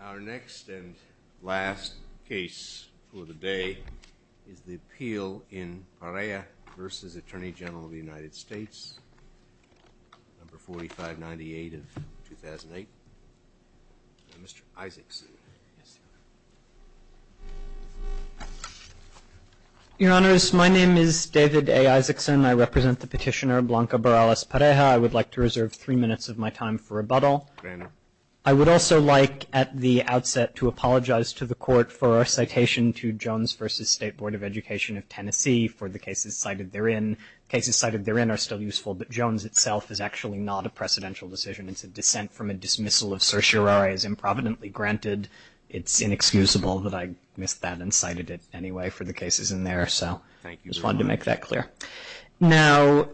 Our next and last case for the day is the appeal in Pareja versus Attorney General of the United States number 4598 of 2008. Mr. Isakson. Your Honors, my name is David A. Isakson. I represent the petitioner, Blanca Barrales-Pareja. I would like to reserve three minutes of my time for rebuttal. Your Honor. I would also like at the outset to apologize to the Court for our citation to Jones versus State Board of Education of Tennessee for the cases cited therein. Cases cited therein are still useful, but Jones itself is actually not a precedential decision. It's a dissent from a dismissal of certiorari as improvidently granted. It's inexcusable that I missed that and cited it anyway for the cases in there, so I just wanted to make that clear. Now,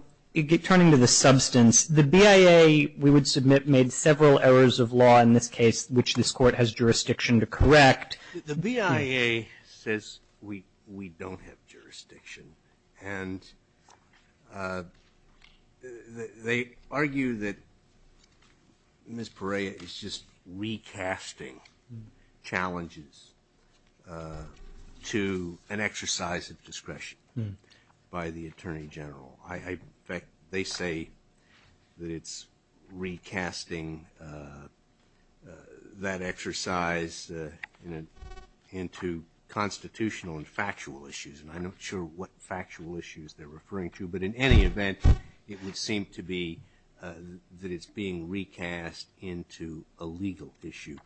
turning to the substance, the BIA, we would submit, made several errors of law in this case which this Court has jurisdiction to correct. The BIA says we don't have jurisdiction, and they argue that Ms. Pareja is just recasting challenges to an exercise of discretion by the Attorney General. In fact, they say that it's recasting that exercise into constitutional and factual issues, and I'm not sure what factual issues they're referring to, but in any event, it would seem to be that it's being recast into a legal issue.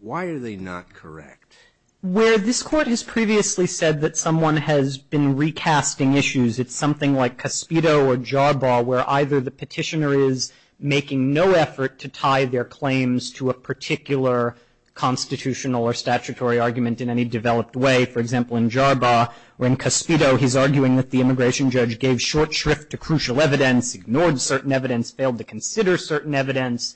Why are they not correct? Where this Court has previously said that someone has been recasting issues, it's something like Cospedo or Jarbaugh where either the petitioner is making no effort to tie their claims to a particular constitutional or statutory argument in any developed way. For example, in Jarbaugh, when Cospedo, he's arguing that the immigration judge gave short shrift to consider certain evidence,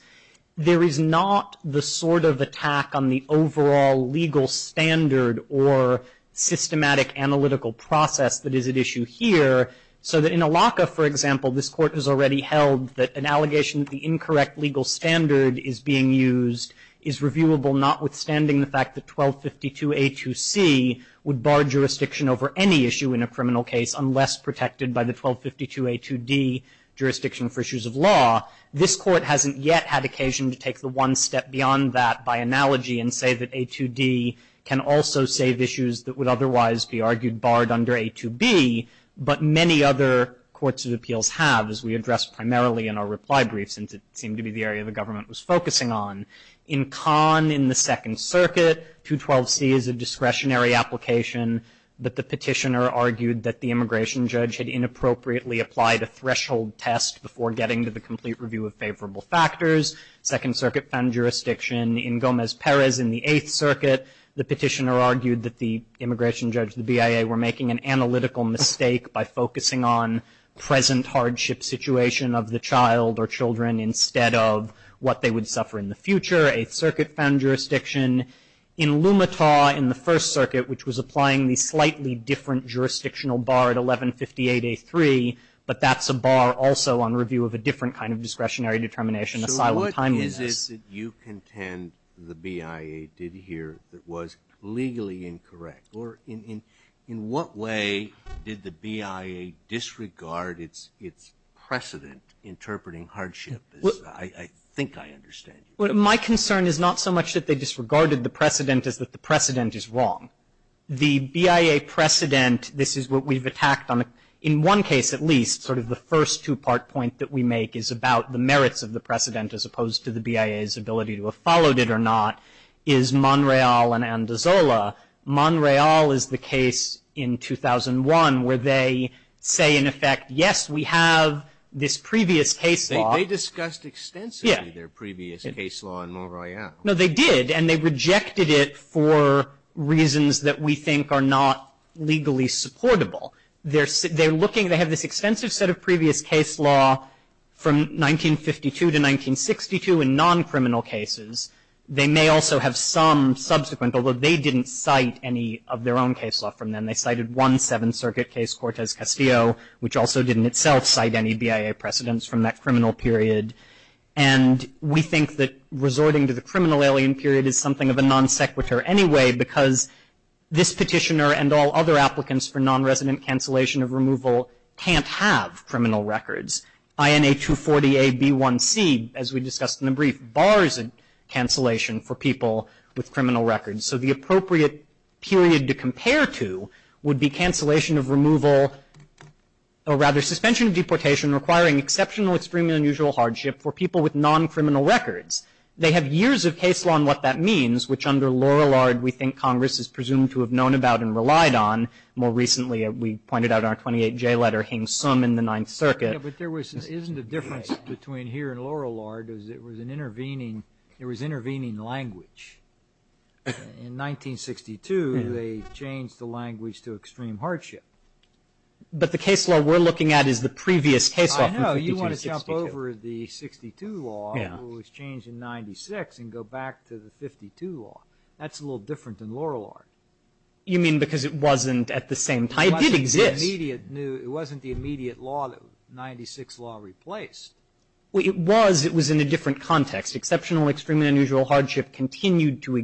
there is not the sort of attack on the overall legal standard or systematic analytical process that is at issue here, so that in Alaca, for example, this Court has already held that an allegation that the incorrect legal standard is being used is reviewable, notwithstanding the fact that 1252A2C would bar jurisdiction over any issue in a criminal case unless protected by the 1252A2D jurisdiction for issues of law. This Court hasn't yet had occasion to take the one step beyond that by analogy and say that A2D can also save issues that would otherwise be argued barred under A2B, but many other courts of appeals have, as we addressed primarily in our reply brief, since it seemed to be the area the government was focusing on. In Kahn, in the Second Circuit, 212C is a discretionary application that the petitioner argued that the immigration judge had inappropriately applied a threshold test before getting to the complete review of favorable factors. Second Circuit found jurisdiction in Gomez-Perez in the Eighth Circuit. The petitioner argued that the immigration judge, the BIA, were making an analytical mistake by focusing on present hardship situation of the child or future. Eighth Circuit found jurisdiction in Lumetaw in the First Circuit, which was applying the slightly different jurisdictional bar at 1158A3, but that's a bar also on review of a different kind of discretionary determination, asylum timeliness. So what is it that you contend the BIA did here that was legally incorrect? Or in what way did the BIA disregard its precedent interpreting hardship, as I think I understand it? Well, my concern is not so much that they disregarded the precedent as that the precedent is wrong. The BIA precedent, this is what we've attacked on, in one case at least, sort of the first two-part point that we make is about the merits of the precedent as opposed to the BIA's ability to have followed it or not, is Monreal and Andazola. Monreal is the case in 2001 where they say, in effect, yes, we have this previous case law. They discussed extensively their previous case law. No, they did, and they rejected it for reasons that we think are not legally supportable. They're looking, they have this extensive set of previous case law from 1952 to 1962 in non-criminal cases. They may also have some subsequent, although they didn't cite any of their own case law from then. They cited one Seventh Circuit case, Cortez-Castillo, which also didn't itself cite any BIA precedents from that criminal period. And we think that resorting to the criminal alien period is something of a non-sequitur anyway because this petitioner and all other applicants for non-resident cancellation of removal can't have criminal records. INA 240-AB1C, as we discussed in the brief, bars cancellation for people with criminal records. So the appropriate period to compare to would be cancellation of removal, or rather suspension of deportation requiring exceptional, extreme, and unusual hardship for people with non-criminal records. They have years of case law on what that means, which under Laurellard we think Congress is presumed to have known about and relied on. More recently, we pointed out our 28J letter, Hing Sum in the Ninth Circuit. But there was, isn't the difference between here and Laurellard is it was an intervening, it was intervening language. In 1962, they changed the language to extreme hardship. But the case law we're looking at is the previous case law from 1952 to 1962. I know. You want to jump over the 1962 law, which was changed in 1996, and go back to the 1952 law. That's a little different than Laurellard. You mean because it wasn't at the same time? It did exist. It wasn't the immediate law that the 1996 law replaced. It was. It was in a different context. Exceptional, extreme, and unusual hardship continued to occur.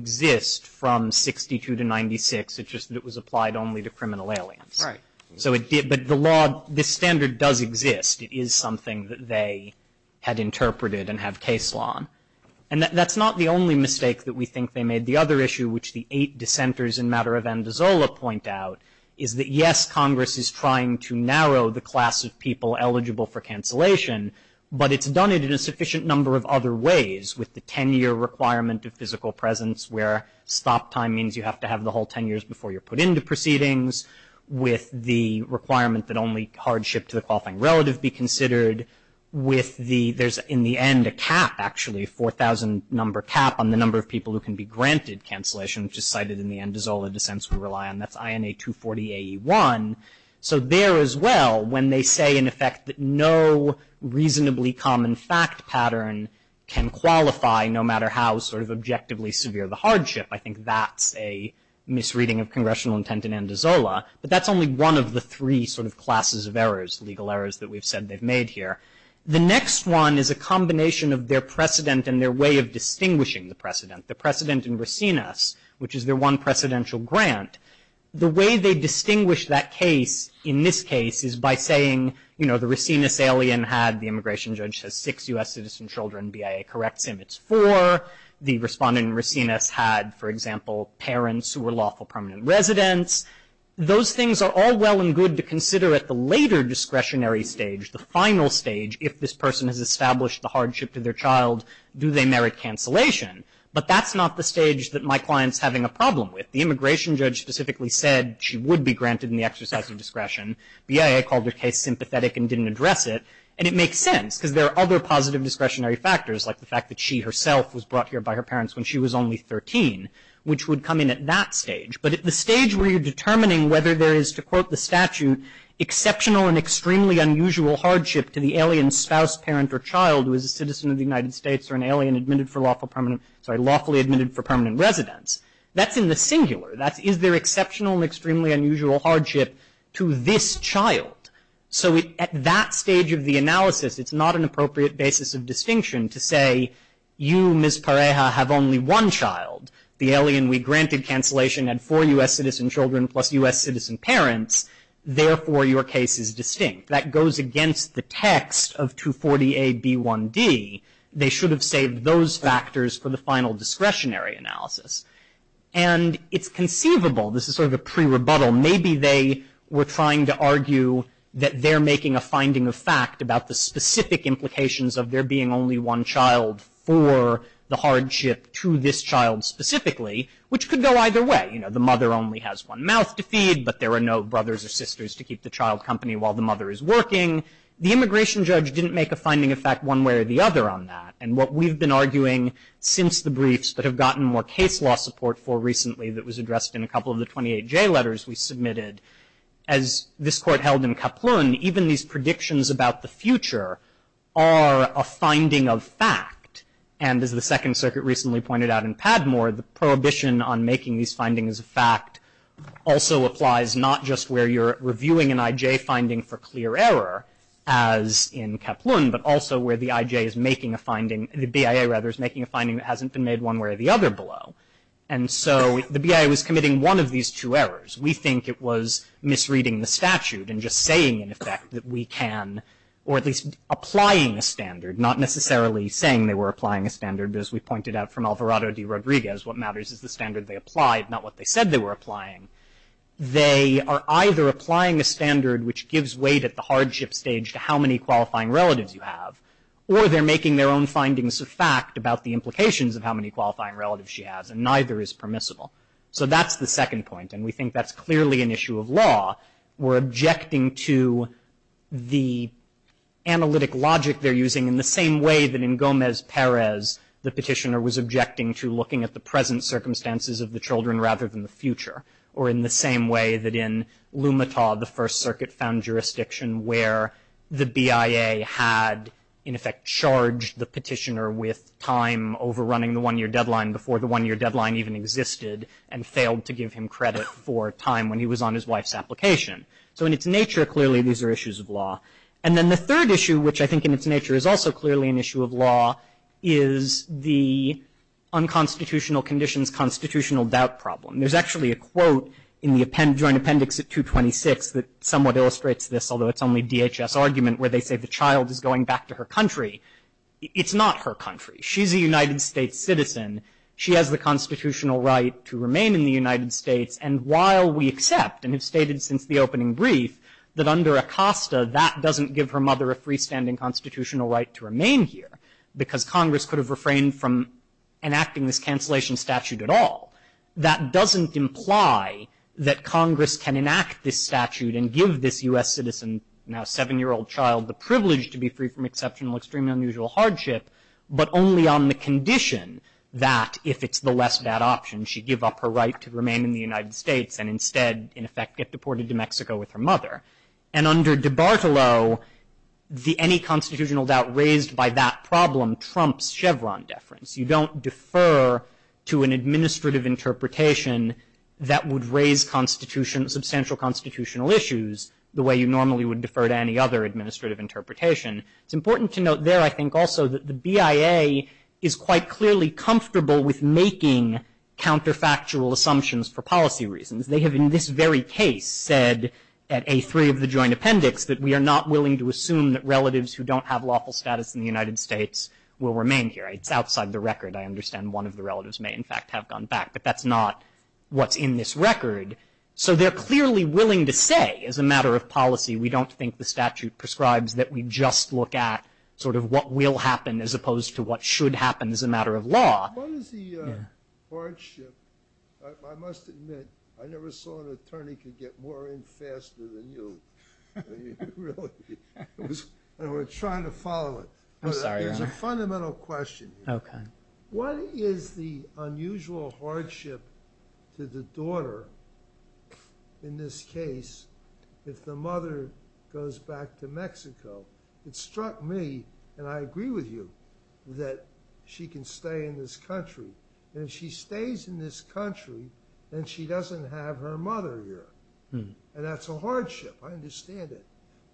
So it did, but the law, this standard does exist. It is something that they had interpreted and have case law on. And that's not the only mistake that we think they made. The other issue, which the eight dissenters in Matter of Andazola point out, is that yes, Congress is trying to narrow the class of people eligible for cancellation, but it's done it in a sufficient number of other ways, with the 10-year requirement of physical presence, where stop time means you have to have the whole 10 years before you're put into proceedings, with the requirement that only hardship to the qualifying relative be considered, with the, there's in the end a cap, actually, a 4,000 number cap on the number of people who can be granted cancellation, which is cited in the Andazola dissents we rely on. That's INA 240AE1. So there as well, when they say, in effect, that no reasonably common fact pattern can be a misreading of congressional intent in Andazola, but that's only one of the three sort of classes of errors, legal errors, that we've said they've made here. The next one is a combination of their precedent and their way of distinguishing the precedent. The precedent in Racines, which is their one presidential grant, the way they distinguish that case in this case is by saying, you know, the Racines alien had, the immigration judge has six U.S. citizen children, BIA corrects him, it's four. The respondent in Racines had, for example, parents who were lawful permanent residents. Those things are all well and good to consider at the later discretionary stage, the final stage, if this person has established the hardship to their child, do they merit cancellation? But that's not the stage that my client's having a problem with. The immigration judge specifically said she would be granted in the exercise of discretion. BIA called their case sympathetic and didn't address it. And it makes sense, because there are other positive discretionary factors, like the fact that she herself was brought here by her parents when she was only 13, which would come in at that stage. But at the stage where you're determining whether there is, to quote the statute, exceptional and extremely unusual hardship to the alien spouse, parent, or child who is a citizen of the United States or an alien admitted for lawful permanent, sorry, lawfully admitted for permanent residence, that's in the singular. That's, is there exceptional and extremely unusual hardship to this child? So at that stage of the analysis, it's not an appropriate basis of distinction to say, you, Ms. Pareja, have only one child. The alien we granted cancellation had four U.S. citizen children plus U.S. citizen parents, therefore your case is distinct. That goes against the text of 240A.B.1.D. They should have saved those factors for the final discretionary analysis. And it's conceivable, this is sort of a pre-rebuttal, maybe they were trying to argue that they're making a finding of fact about the specific implications of there being only one child for the hardship to this child specifically, which could go either way. You know, the mother only has one mouth to feed, but there are no brothers or sisters to keep the child company while the mother is working. The immigration judge didn't make a finding of fact one way or the other on that. And what we've been arguing since the briefs that have gotten more case law support for recently that was addressed in a couple of the 28J letters we these predictions about the future are a finding of fact. And as the Second Circuit recently pointed out in Padmore, the prohibition on making these findings of fact also applies not just where you're reviewing an IJ finding for clear error, as in Kaplun, but also where the IJ is making a finding, the BIA rather, is making a finding that hasn't been made one way or the other below. And so the BIA was committing one of these two errors. We think it was misreading the statute and just saying, in effect, that we can, or at least applying a standard, not necessarily saying they were applying a standard. As we pointed out from Alvarado de Rodriguez, what matters is the standard they applied, not what they said they were applying. They are either applying a standard which gives weight at the hardship stage to how many qualifying relatives you have, or they're making their own findings of fact about the implications of how many qualifying relatives she has, and neither is permissible. So that's the second point, and we think that's clearly an issue of law. We're objecting to the analytic logic they're using in the same way that in Gomez-Perez, the petitioner was objecting to looking at the present circumstances of the children rather than the future, or in the same way that in Lumita, the First Circuit-found jurisdiction where the BIA had, in effect, charged the petitioner with time overrunning the one-year deadline even existed and failed to give him credit for time when he was on his wife's application. So in its nature, clearly, these are issues of law. And then the third issue, which I think in its nature is also clearly an issue of law, is the unconstitutional conditions constitutional doubt problem. There's actually a quote in the joint appendix at 226 that somewhat illustrates this, although it's only DHS argument where they say the child is going back to her country. It's not her country. She's a United States citizen. She has the constitutional right to remain in the United States. And while we accept, and have stated since the opening brief, that under ACOSTA, that doesn't give her mother a freestanding constitutional right to remain here because Congress could have refrained from enacting this cancellation statute at all. That doesn't imply that Congress can enact this statute and give this U.S. citizen, now seven-year-old child, the privilege to be free from exceptional, extreme, unusual hardship, but only on the condition that, if it's the less bad option, she give up her right to remain in the United States and instead, in effect, get deported to Mexico with her mother. And under DiBartolo, any constitutional doubt raised by that problem trumps Chevron deference. You don't defer to an administrative interpretation that would raise substantial constitutional issues the way you normally would defer to any other administrative interpretation. It's important to note there, I think, also, that the BIA is quite clearly comfortable with making counterfactual assumptions for policy reasons. They have, in this very case, said at A3 of the joint appendix that we are not willing to assume that relatives who don't have lawful status in the United States will remain here. It's outside the record. I understand one of the relatives may, in fact, have gone back. But that's not what's in this record. So they're clearly willing to say, as a matter of policy, we don't think the statute prescribes that we just look at sort of what will happen as opposed to what should happen as a matter of law. What is the hardship? I must admit, I never saw an attorney could get more in faster than you. I mean, really. And we're trying to follow it. I'm sorry, Your Honor. It's a fundamental question. Okay. What is the unusual hardship to the daughter, in this case, if the mother goes back to Mexico that struck me, and I agree with you, that she can stay in this country. And if she stays in this country, then she doesn't have her mother here. And that's a hardship. I understand it.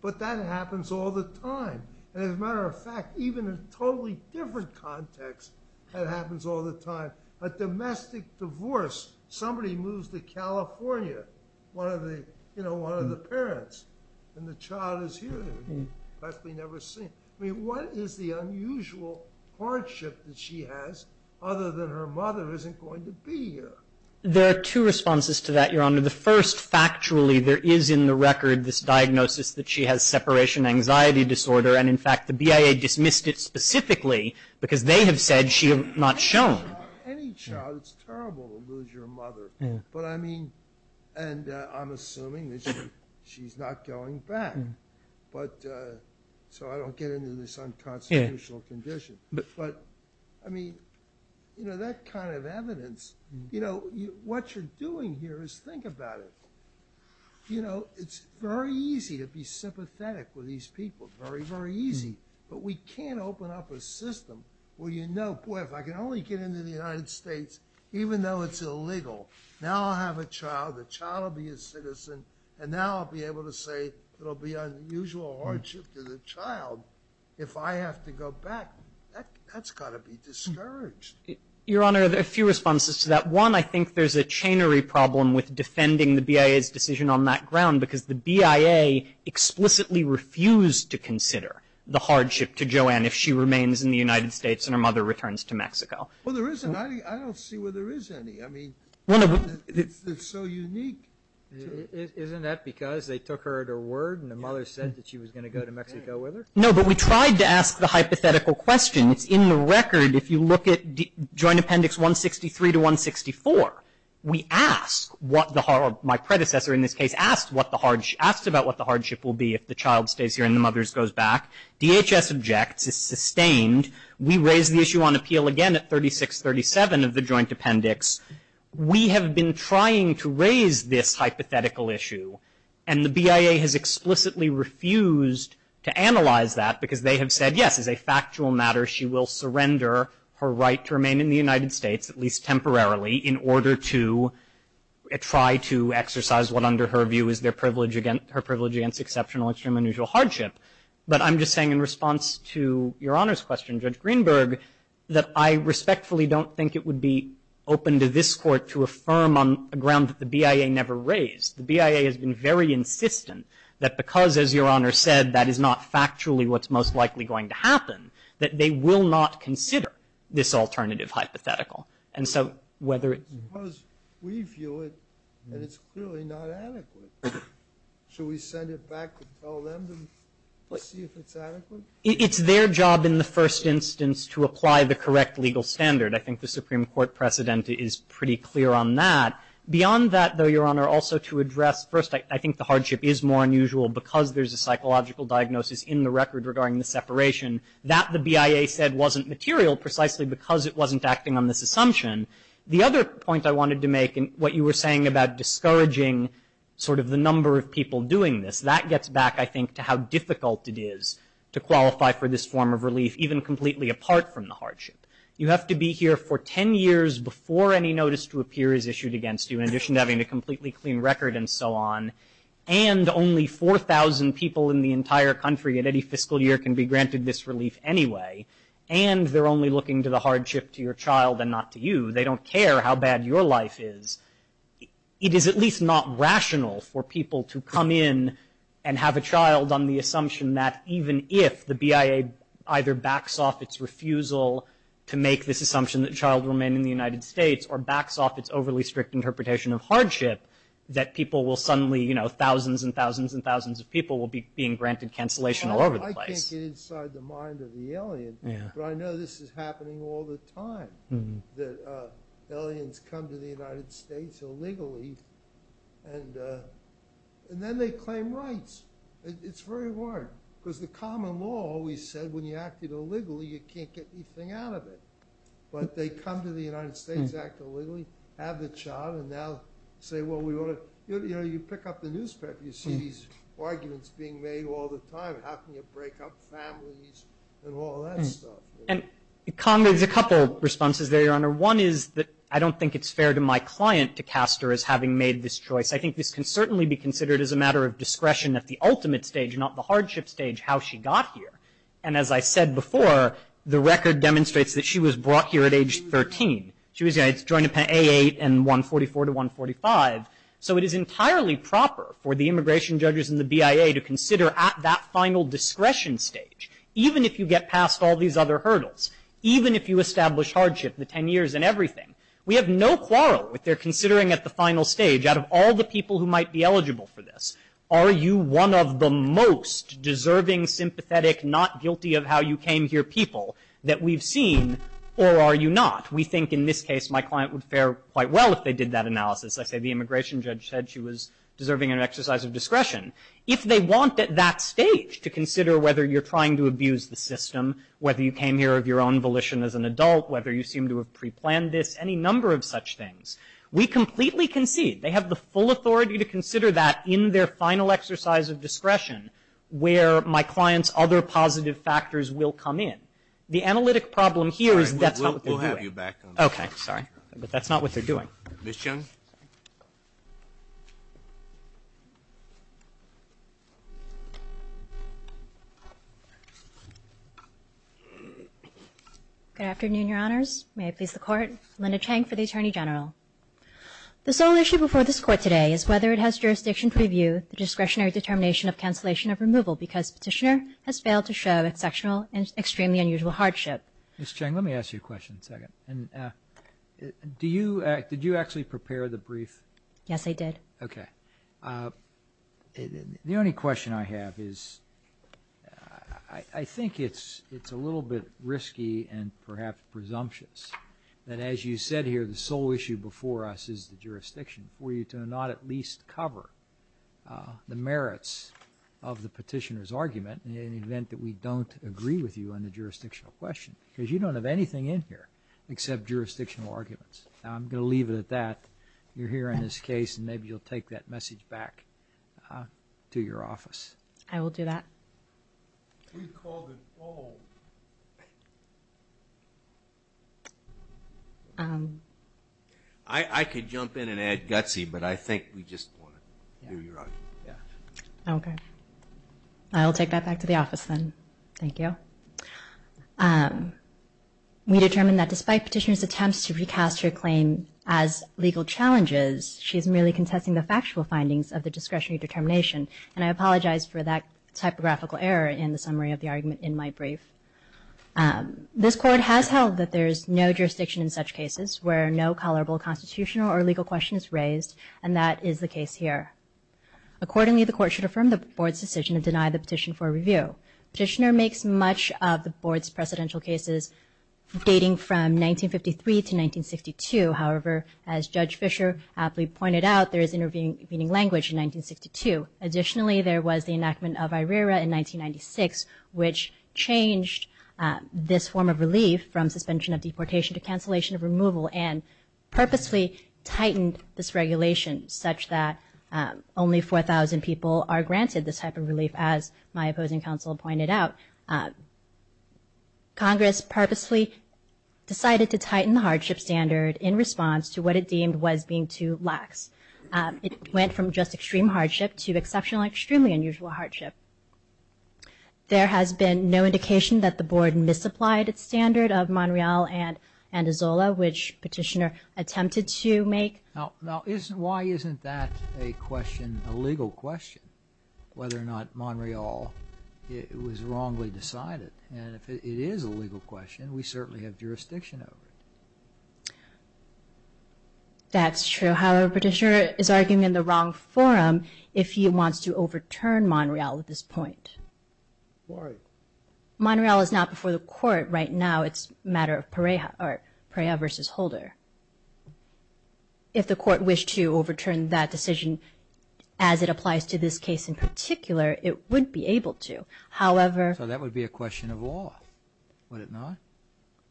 But that happens all the time. And as a matter of fact, even in a totally different context, that happens all the time. A domestic divorce, somebody moves to California, one of the parents, and the child is here. I mean, what is the unusual hardship that she has other than her mother isn't going to be here? There are two responses to that, Your Honor. The first, factually, there is in the record this diagnosis that she has separation anxiety disorder. And in fact, the BIA dismissed it specifically because they have said she had not shown. Any child, it's terrible to lose your mother. But I mean, and I'm assuming that she's not going back. But so I don't get into this unconstitutional condition. But I mean, you know, that kind of evidence, you know, what you're doing here is think about it. You know, it's very easy to be sympathetic with these people. Very, very easy. But we can't open up a system where you know, boy, if I can only get into the United States, even though it's illegal, now I'll have a child. The child will be a citizen. And now I'll be able to say it'll be unusual hardship to the child if I have to go back. That's got to be discouraged. Your Honor, there are a few responses to that. One, I think there's a chainery problem with defending the BIA's decision on that ground because the BIA explicitly refused to consider the hardship to Joanne if she remains in the United States and her mother returns to Mexico. Well, there isn't. I don't see where there is any. I mean, it's so unique. Isn't that because they took her at her word and the mother said that she was going to go to Mexico with her? No, but we tried to ask the hypothetical question. It's in the record. If you look at Joint Appendix 163 to 164, we ask what the hard, my predecessor in this case, asked what the hardship will be if the child stays here and the mother goes back. DHS objects. It's sustained. We raise the issue on appeal again at 3637 of the Joint Appendix. We have been trying to raise this hypothetical issue, and the BIA has explicitly refused to analyze that because they have said, yes, as a factual matter, she will surrender her right to remain in the United States, at least temporarily, in order to try to exercise what exceptional, extreme, and unusual hardship. But I'm just saying in response to Your Honor's question, Judge Greenberg, that I respectfully don't think it would be open to this Court to affirm on a ground that the BIA never raised. The BIA has been very insistent that because, as Your Honor said, that is not factually what's most likely going to happen, that they will not consider this alternative hypothetical. And so whether it's because we view it and it's clearly not adequate, should we send it back to tell them to see if it's adequate? It's their job in the first instance to apply the correct legal standard. I think the Supreme Court precedent is pretty clear on that. Beyond that, though, Your Honor, also to address first, I think the hardship is more unusual because there's a psychological diagnosis in the record regarding the separation that the BIA said wasn't material precisely because it wasn't acting on this assumption. The other point I wanted to make in what you were saying about discouraging sort of the number of people doing this, that gets back, I think, to how difficult it is to qualify for this form of relief, even completely apart from the hardship. You have to be here for 10 years before any notice to appear is issued against you, in addition to having a completely clean record and so on, and only 4,000 people in the entire country at any fiscal year can be granted this relief anyway, and they're only looking to the hardship to your child and not to you. They don't care how bad your life is. It is at least not rational for people to come in and have a child on the assumption that even if the BIA either backs off its refusal to make this assumption that a child will remain in the United States or backs off its overly strict interpretation of hardship, that people will suddenly, you know, thousands and thousands and thousands of people will be being granted cancellation all over the place. I can't get inside the mind of the alien, but I know this is happening all the time, that aliens come to the United States illegally, and then they claim rights. It's very hard, because the common law always said when you act illegally, you can't get anything out of it, but they come to the United States, act illegally, have the child, and now say, well, we ought to, you know, you pick up the newspaper, you see these arguments being made all the time. How can you break up families and all that stuff? And Conger, there's a couple of responses there, Your Honor. One is that I don't think it's fair to my client to cast her as having made this choice. I think this can certainly be considered as a matter of discretion at the ultimate stage, not the hardship stage, how she got here. And as I said before, the record demonstrates that she was brought here at age 13. She was, you know, joined A8 and 144 to 145. So it is entirely proper for the discretion stage, even if you get past all these other hurdles, even if you establish hardship, the 10 years and everything. We have no quarrel with their considering at the final stage, out of all the people who might be eligible for this, are you one of the most deserving, sympathetic, not guilty of how you came here people that we've seen, or are you not? We think in this case my client would fare quite well if they did that analysis. I say the immigration judge said she was deserving of an exercise of discretion. If they want at that stage to consider whether you're trying to abuse the system, whether you came here of your own volition as an adult, whether you seem to have preplanned this, any number of such things, we completely concede. They have the full authority to consider that in their final exercise of discretion, where my client's other positive factors will come in. The analytic problem here is that's not what they're doing. We'll have you back on the line. Okay. Sorry. But that's not what they're doing. Ms. Young? Good afternoon, Your Honors. May I please the Court? Linda Chang for the Attorney General. The sole issue before this Court today is whether it has jurisdiction to review the discretionary determination of cancellation of removal because Petitioner has failed to show exceptional and extremely unusual hardship. Ms. Chang, let me ask you a question in a second. Did you actually prepare the brief? Yes, I did. Okay. The only question I have is I think it's a little bit risky and perhaps presumptuous that as you said here, the sole issue before us is the jurisdiction for you to not at least cover the merits of the Petitioner's argument in the event that we don't agree with you on the jurisdictional question because you don't have anything in here except jurisdictional arguments. Now, I'm going to leave it at that. You're here in this case and maybe you'll take that message back to your office. I will do that. We've called it full. I could jump in and add gutsy, but I think we just want to hear your argument. Okay. I'll take that back to the office then. Thank you. We determined that despite Petitioner's attempts to recast her claim as legal challenges, she is merely contesting the factual findings of the discretionary determination. And I apologize for that typographical error in the summary of the argument in my brief. This Court has held that there is no jurisdiction in such cases where no tolerable constitutional or legal question is raised, and that is the case here. Accordingly, the Court should affirm the Board's decision to deny the petition for review. Petitioner makes much of the Board's precedential cases dating from 1953 to 1962. However, as Judge Fischer aptly pointed out, there is intervening language in 1962. Additionally, there was the enactment of IRERA in 1996, which changed this form of relief from suspension of deportation to cancellation of removal and purposely tightened this regulation, such that only 4,000 people are granted this type of relief, as my opposing counsel pointed out. Congress purposely decided to tighten the hardship standard in response to what it deemed was being too lax. It went from just extreme hardship to exceptional and extremely unusual hardship. There has been no indication that the Board misapplied its standard of Monreal and Andazola, which Petitioner attempted to make. Now, why isn't that a question, a legal question, whether or not Monreal was wrongly decided? And if it is a legal question, we certainly have jurisdiction over it. That's true. However, Petitioner is arguing in the wrong forum if he wants to overturn Monreal at this point. Why? Monreal is not before the Court right now. It's a matter of Pereja versus Holder. If the Court wished to overturn that decision as it applies to this case in particular, it would be able to. However— So that would be a question of law, would it not?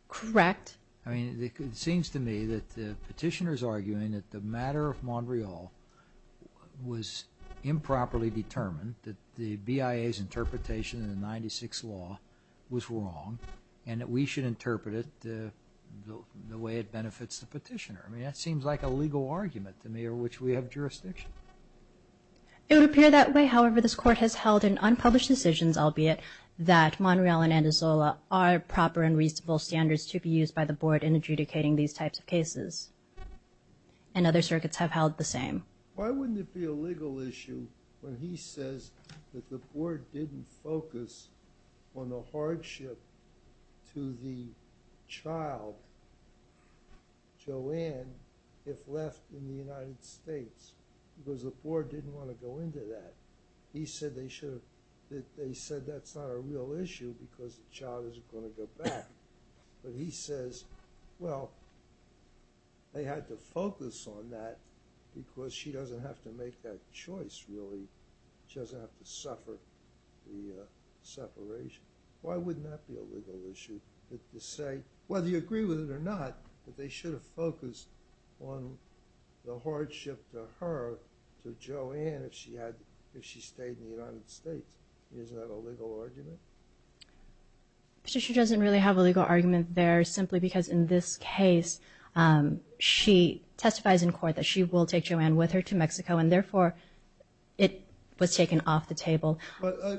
Correct. I mean, it seems to me that Petitioner is arguing that the matter of Monreal was improperly determined, that the BIA's interpretation of the Ninety-Six Law was wrong, and that we should interpret it the way it benefits the Petitioner. I mean, that seems like a legal argument to me of which we have jurisdiction. It would appear that way. However, this Court has held in unpublished decisions, albeit that Monreal and Andazola are proper and reasonable standards to be used by the Board in adjudicating these types of cases. And other circuits have held the same. Why wouldn't it be a legal issue when he says that the Board didn't focus on the hardship to the child, Joanne, if left in the United States? Because the Board didn't want to go into that. He said they should have—they said that's not a real issue because the child isn't going to go back. But he says, well, they had to focus on that because she doesn't have to make that choice, really. She doesn't have to suffer the separation. Why wouldn't that be a legal issue to say, whether you agree with it or not, that they should have focused on the hardship to her, to Joanne, if she stayed in the United States? Isn't that a legal argument? Petitioner doesn't really have a legal argument there simply because in this case she testifies in court that she will take Joanne with her to Mexico, and therefore it was taken off the table.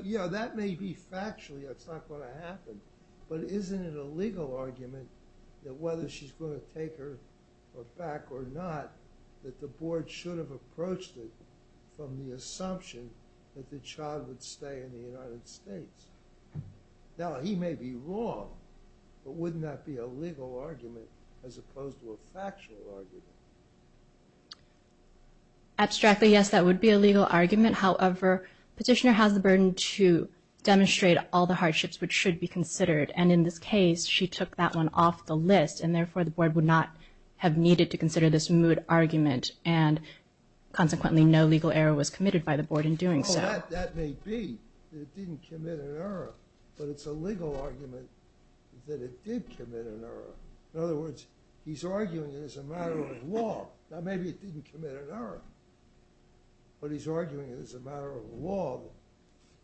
Yeah, that may be factual. That's not going to happen. But isn't it a legal argument that whether she's going to take her back or not, that the Board should have approached it from the assumption that the child would stay in the United States? Now, he may be wrong, but wouldn't that be a legal argument as opposed to a factual argument? Abstractly, yes, that would be a legal argument. However, Petitioner has the burden to demonstrate all the hardships which should be considered, and in this case she took that one off the list, and therefore the Board would not have needed to consider this moot argument, and consequently no legal error was committed by the Board in doing so. Well, that may be that it didn't commit an error, but it's a legal argument that it did commit an error. In other words, he's arguing it as a matter of law. Now, maybe it didn't commit an error, but he's arguing it as a matter of law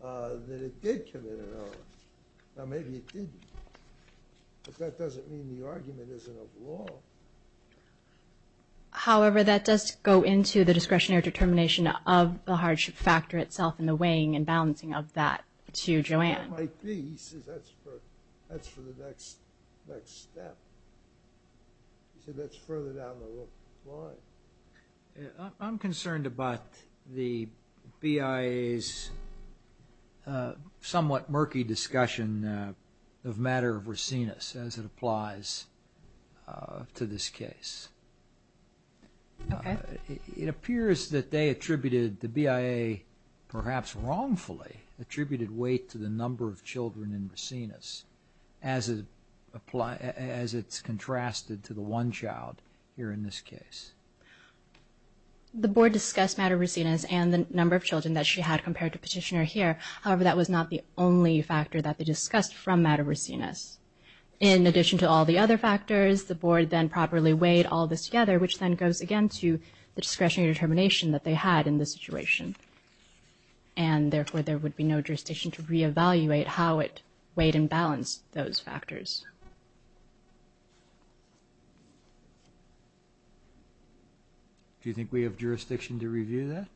that it did commit an error. Now, maybe it didn't, but that doesn't mean the argument isn't of law. However, that does go into the discretionary determination of the hardship factor itself and the weighing and balancing of that to Joanne. It might be. He says that's for the next step. He said that's further down the line. I'm concerned about the BIA's somewhat murky discussion of matter of racinus as it applies to this case. Okay. It appears that they attributed, the BIA perhaps wrongfully, attributed weight to the number of children in racinus as it's contrasted to the one child here in this case. The Board discussed matter of racinus and the number of children that she had compared to Petitioner here. However, that was not the only factor that they discussed from matter of racinus. In addition to all the other factors, the Board then properly weighed all this together, which then goes again to the discretionary determination that they had in this situation, and therefore there would be no jurisdiction to reevaluate how it weighed and balanced those factors. Do you think we have jurisdiction to review that?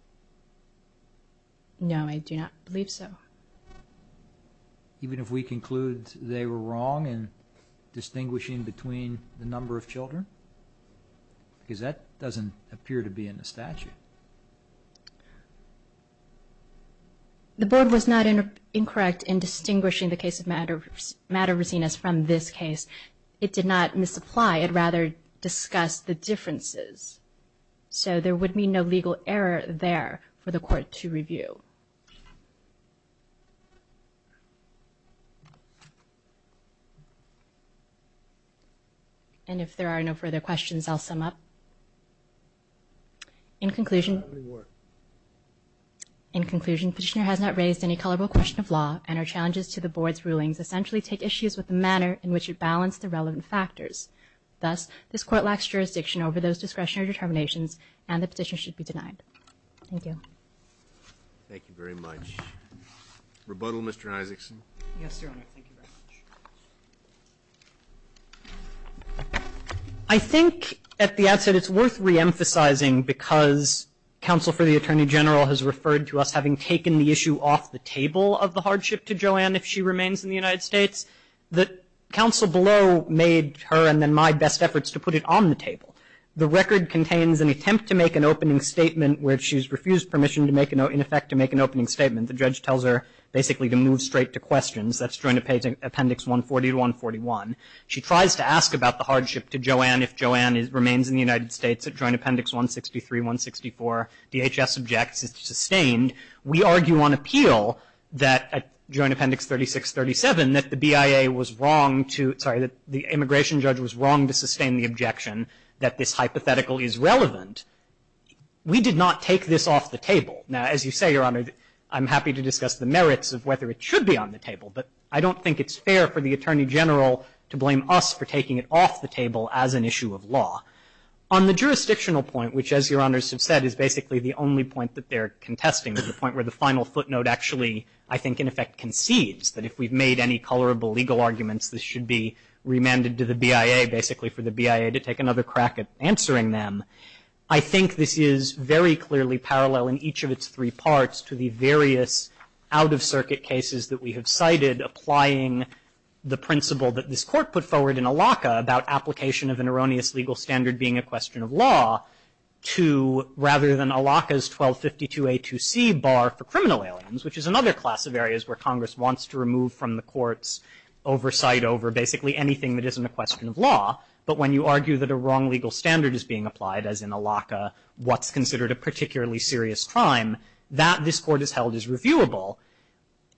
No, I do not believe so. Even if we conclude they were wrong in distinguishing between the number of children? Because that doesn't appear to be in the statute. The Board was not incorrect in distinguishing the case of matter of racinus from this case. It did not misapply. It rather discussed the differences. So there would be no legal error there for the Court to review. Thank you. And if there are no further questions, I'll sum up. In conclusion, Petitioner has not raised any colorable question of law, and her challenges to the Board's rulings essentially take issues with the manner in which it balanced the relevant factors. Thus, this Court lacks jurisdiction over those discretionary determinations, and the Petitioner should be denied. Thank you. Thank you very much. Rebuttal, Mr. Isakson. Yes, Your Honor. Thank you very much. I think at the outset it's worth reemphasizing, because counsel for the Attorney General has referred to us having taken the issue off the table of the hardship to Joanne if she remains in the United States, that counsel below made her and then my best efforts to put it on the table. The record contains an attempt to make an opening statement where she's refused permission to make an opening statement. The judge tells her basically to move straight to questions. That's Joint Appendix 140 to 141. She tries to ask about the hardship to Joanne if Joanne remains in the United States at Joint Appendix 163, 164. DHS objects it's sustained. We argue on appeal that at Joint Appendix 36, 37, that the BIA was wrong to, sorry, that the immigration judge was wrong to sustain the objection that this hypothetical is relevant. We did not take this off the table. Now, as you say, Your Honor, I'm happy to discuss the merits of whether it should be on the table, but I don't think it's fair for the Attorney General to blame us for taking it off the table as an issue of law. On the jurisdictional point, which as Your Honors have said is basically the only point that they're contesting, the point where the final footnote actually I think in effect concedes that if we've made any colorable legal arguments, this should be remanded to the BIA, basically for the BIA to take another crack at answering them. I think this is very clearly parallel in each of its three parts to the various out-of-circuit cases that we have cited applying the principle that this Court put forward in ALACA about application of an erroneous legal standard being a question of law to rather than ALACA's 1252A2C bar for criminal aliens, which is another class of areas where Congress wants to remove from the courts oversight over basically anything that isn't a question of law. But when you argue that a wrong legal standard is being applied, as in ALACA, what's considered a particularly serious crime, that this Court has held is reviewable.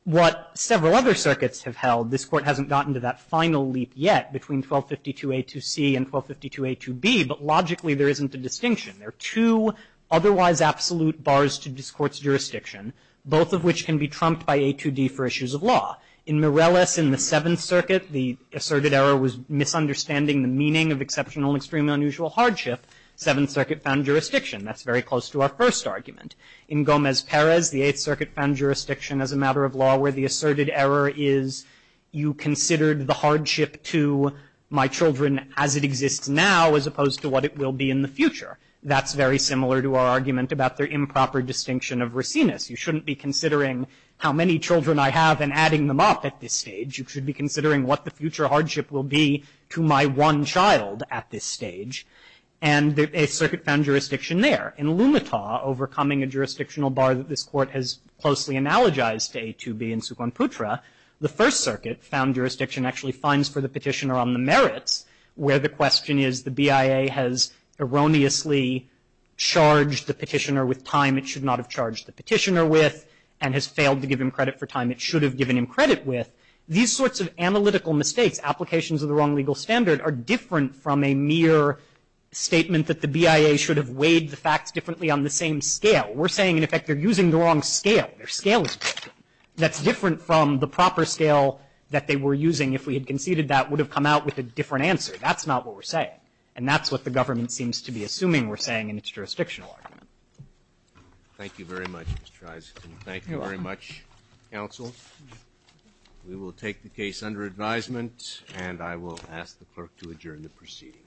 What several other circuits have held, this Court hasn't gotten to that final leap yet between 1252A2C and 1252A2B, but logically there isn't a distinction. There are two otherwise absolute bars to this Court's jurisdiction, both of which can be trumped by A2D for issues of law. In Mireles, in the Seventh Circuit, the asserted error was misunderstanding the meaning of exceptional and extremely unusual hardship. Seventh Circuit found jurisdiction. That's very close to our first argument. In Gomez-Perez, the Eighth Circuit found jurisdiction as a matter of law where the asserted error is you considered the hardship to my children as it exists now as opposed to what it will be in the future. That's very similar to our argument about the improper distinction of racinus. You shouldn't be considering how many children I have and adding them up at this stage. You should be considering what the future hardship will be to my one child at this stage. And the Eighth Circuit found jurisdiction there. In Lumita, overcoming a jurisdictional bar that this Court has closely analogized to A2B in Suquam Putra, the First Circuit found jurisdiction actually fines for the petitioner on the merits where the question is the BIA has erroneously charged the petitioner with time. It should not have charged the petitioner with and has failed to give him credit for time it should have given him credit with. These sorts of analytical mistakes, applications of the wrong legal standard, are different from a mere statement that the BIA should have weighed the facts differently on the same scale. We're saying, in effect, they're using the wrong scale. Their scale is different. That's different from the proper scale that they were using. If we had conceded that, it would have come out with a different answer. That's not what we're saying. And that's what the government seems to be assuming we're saying in its jurisdictional argument. Thank you very much, Mr. Eisenstein. Thank you very much, counsel. We will take the case under advisement, and I will ask the clerk to adjourn the proceedings. Thank you.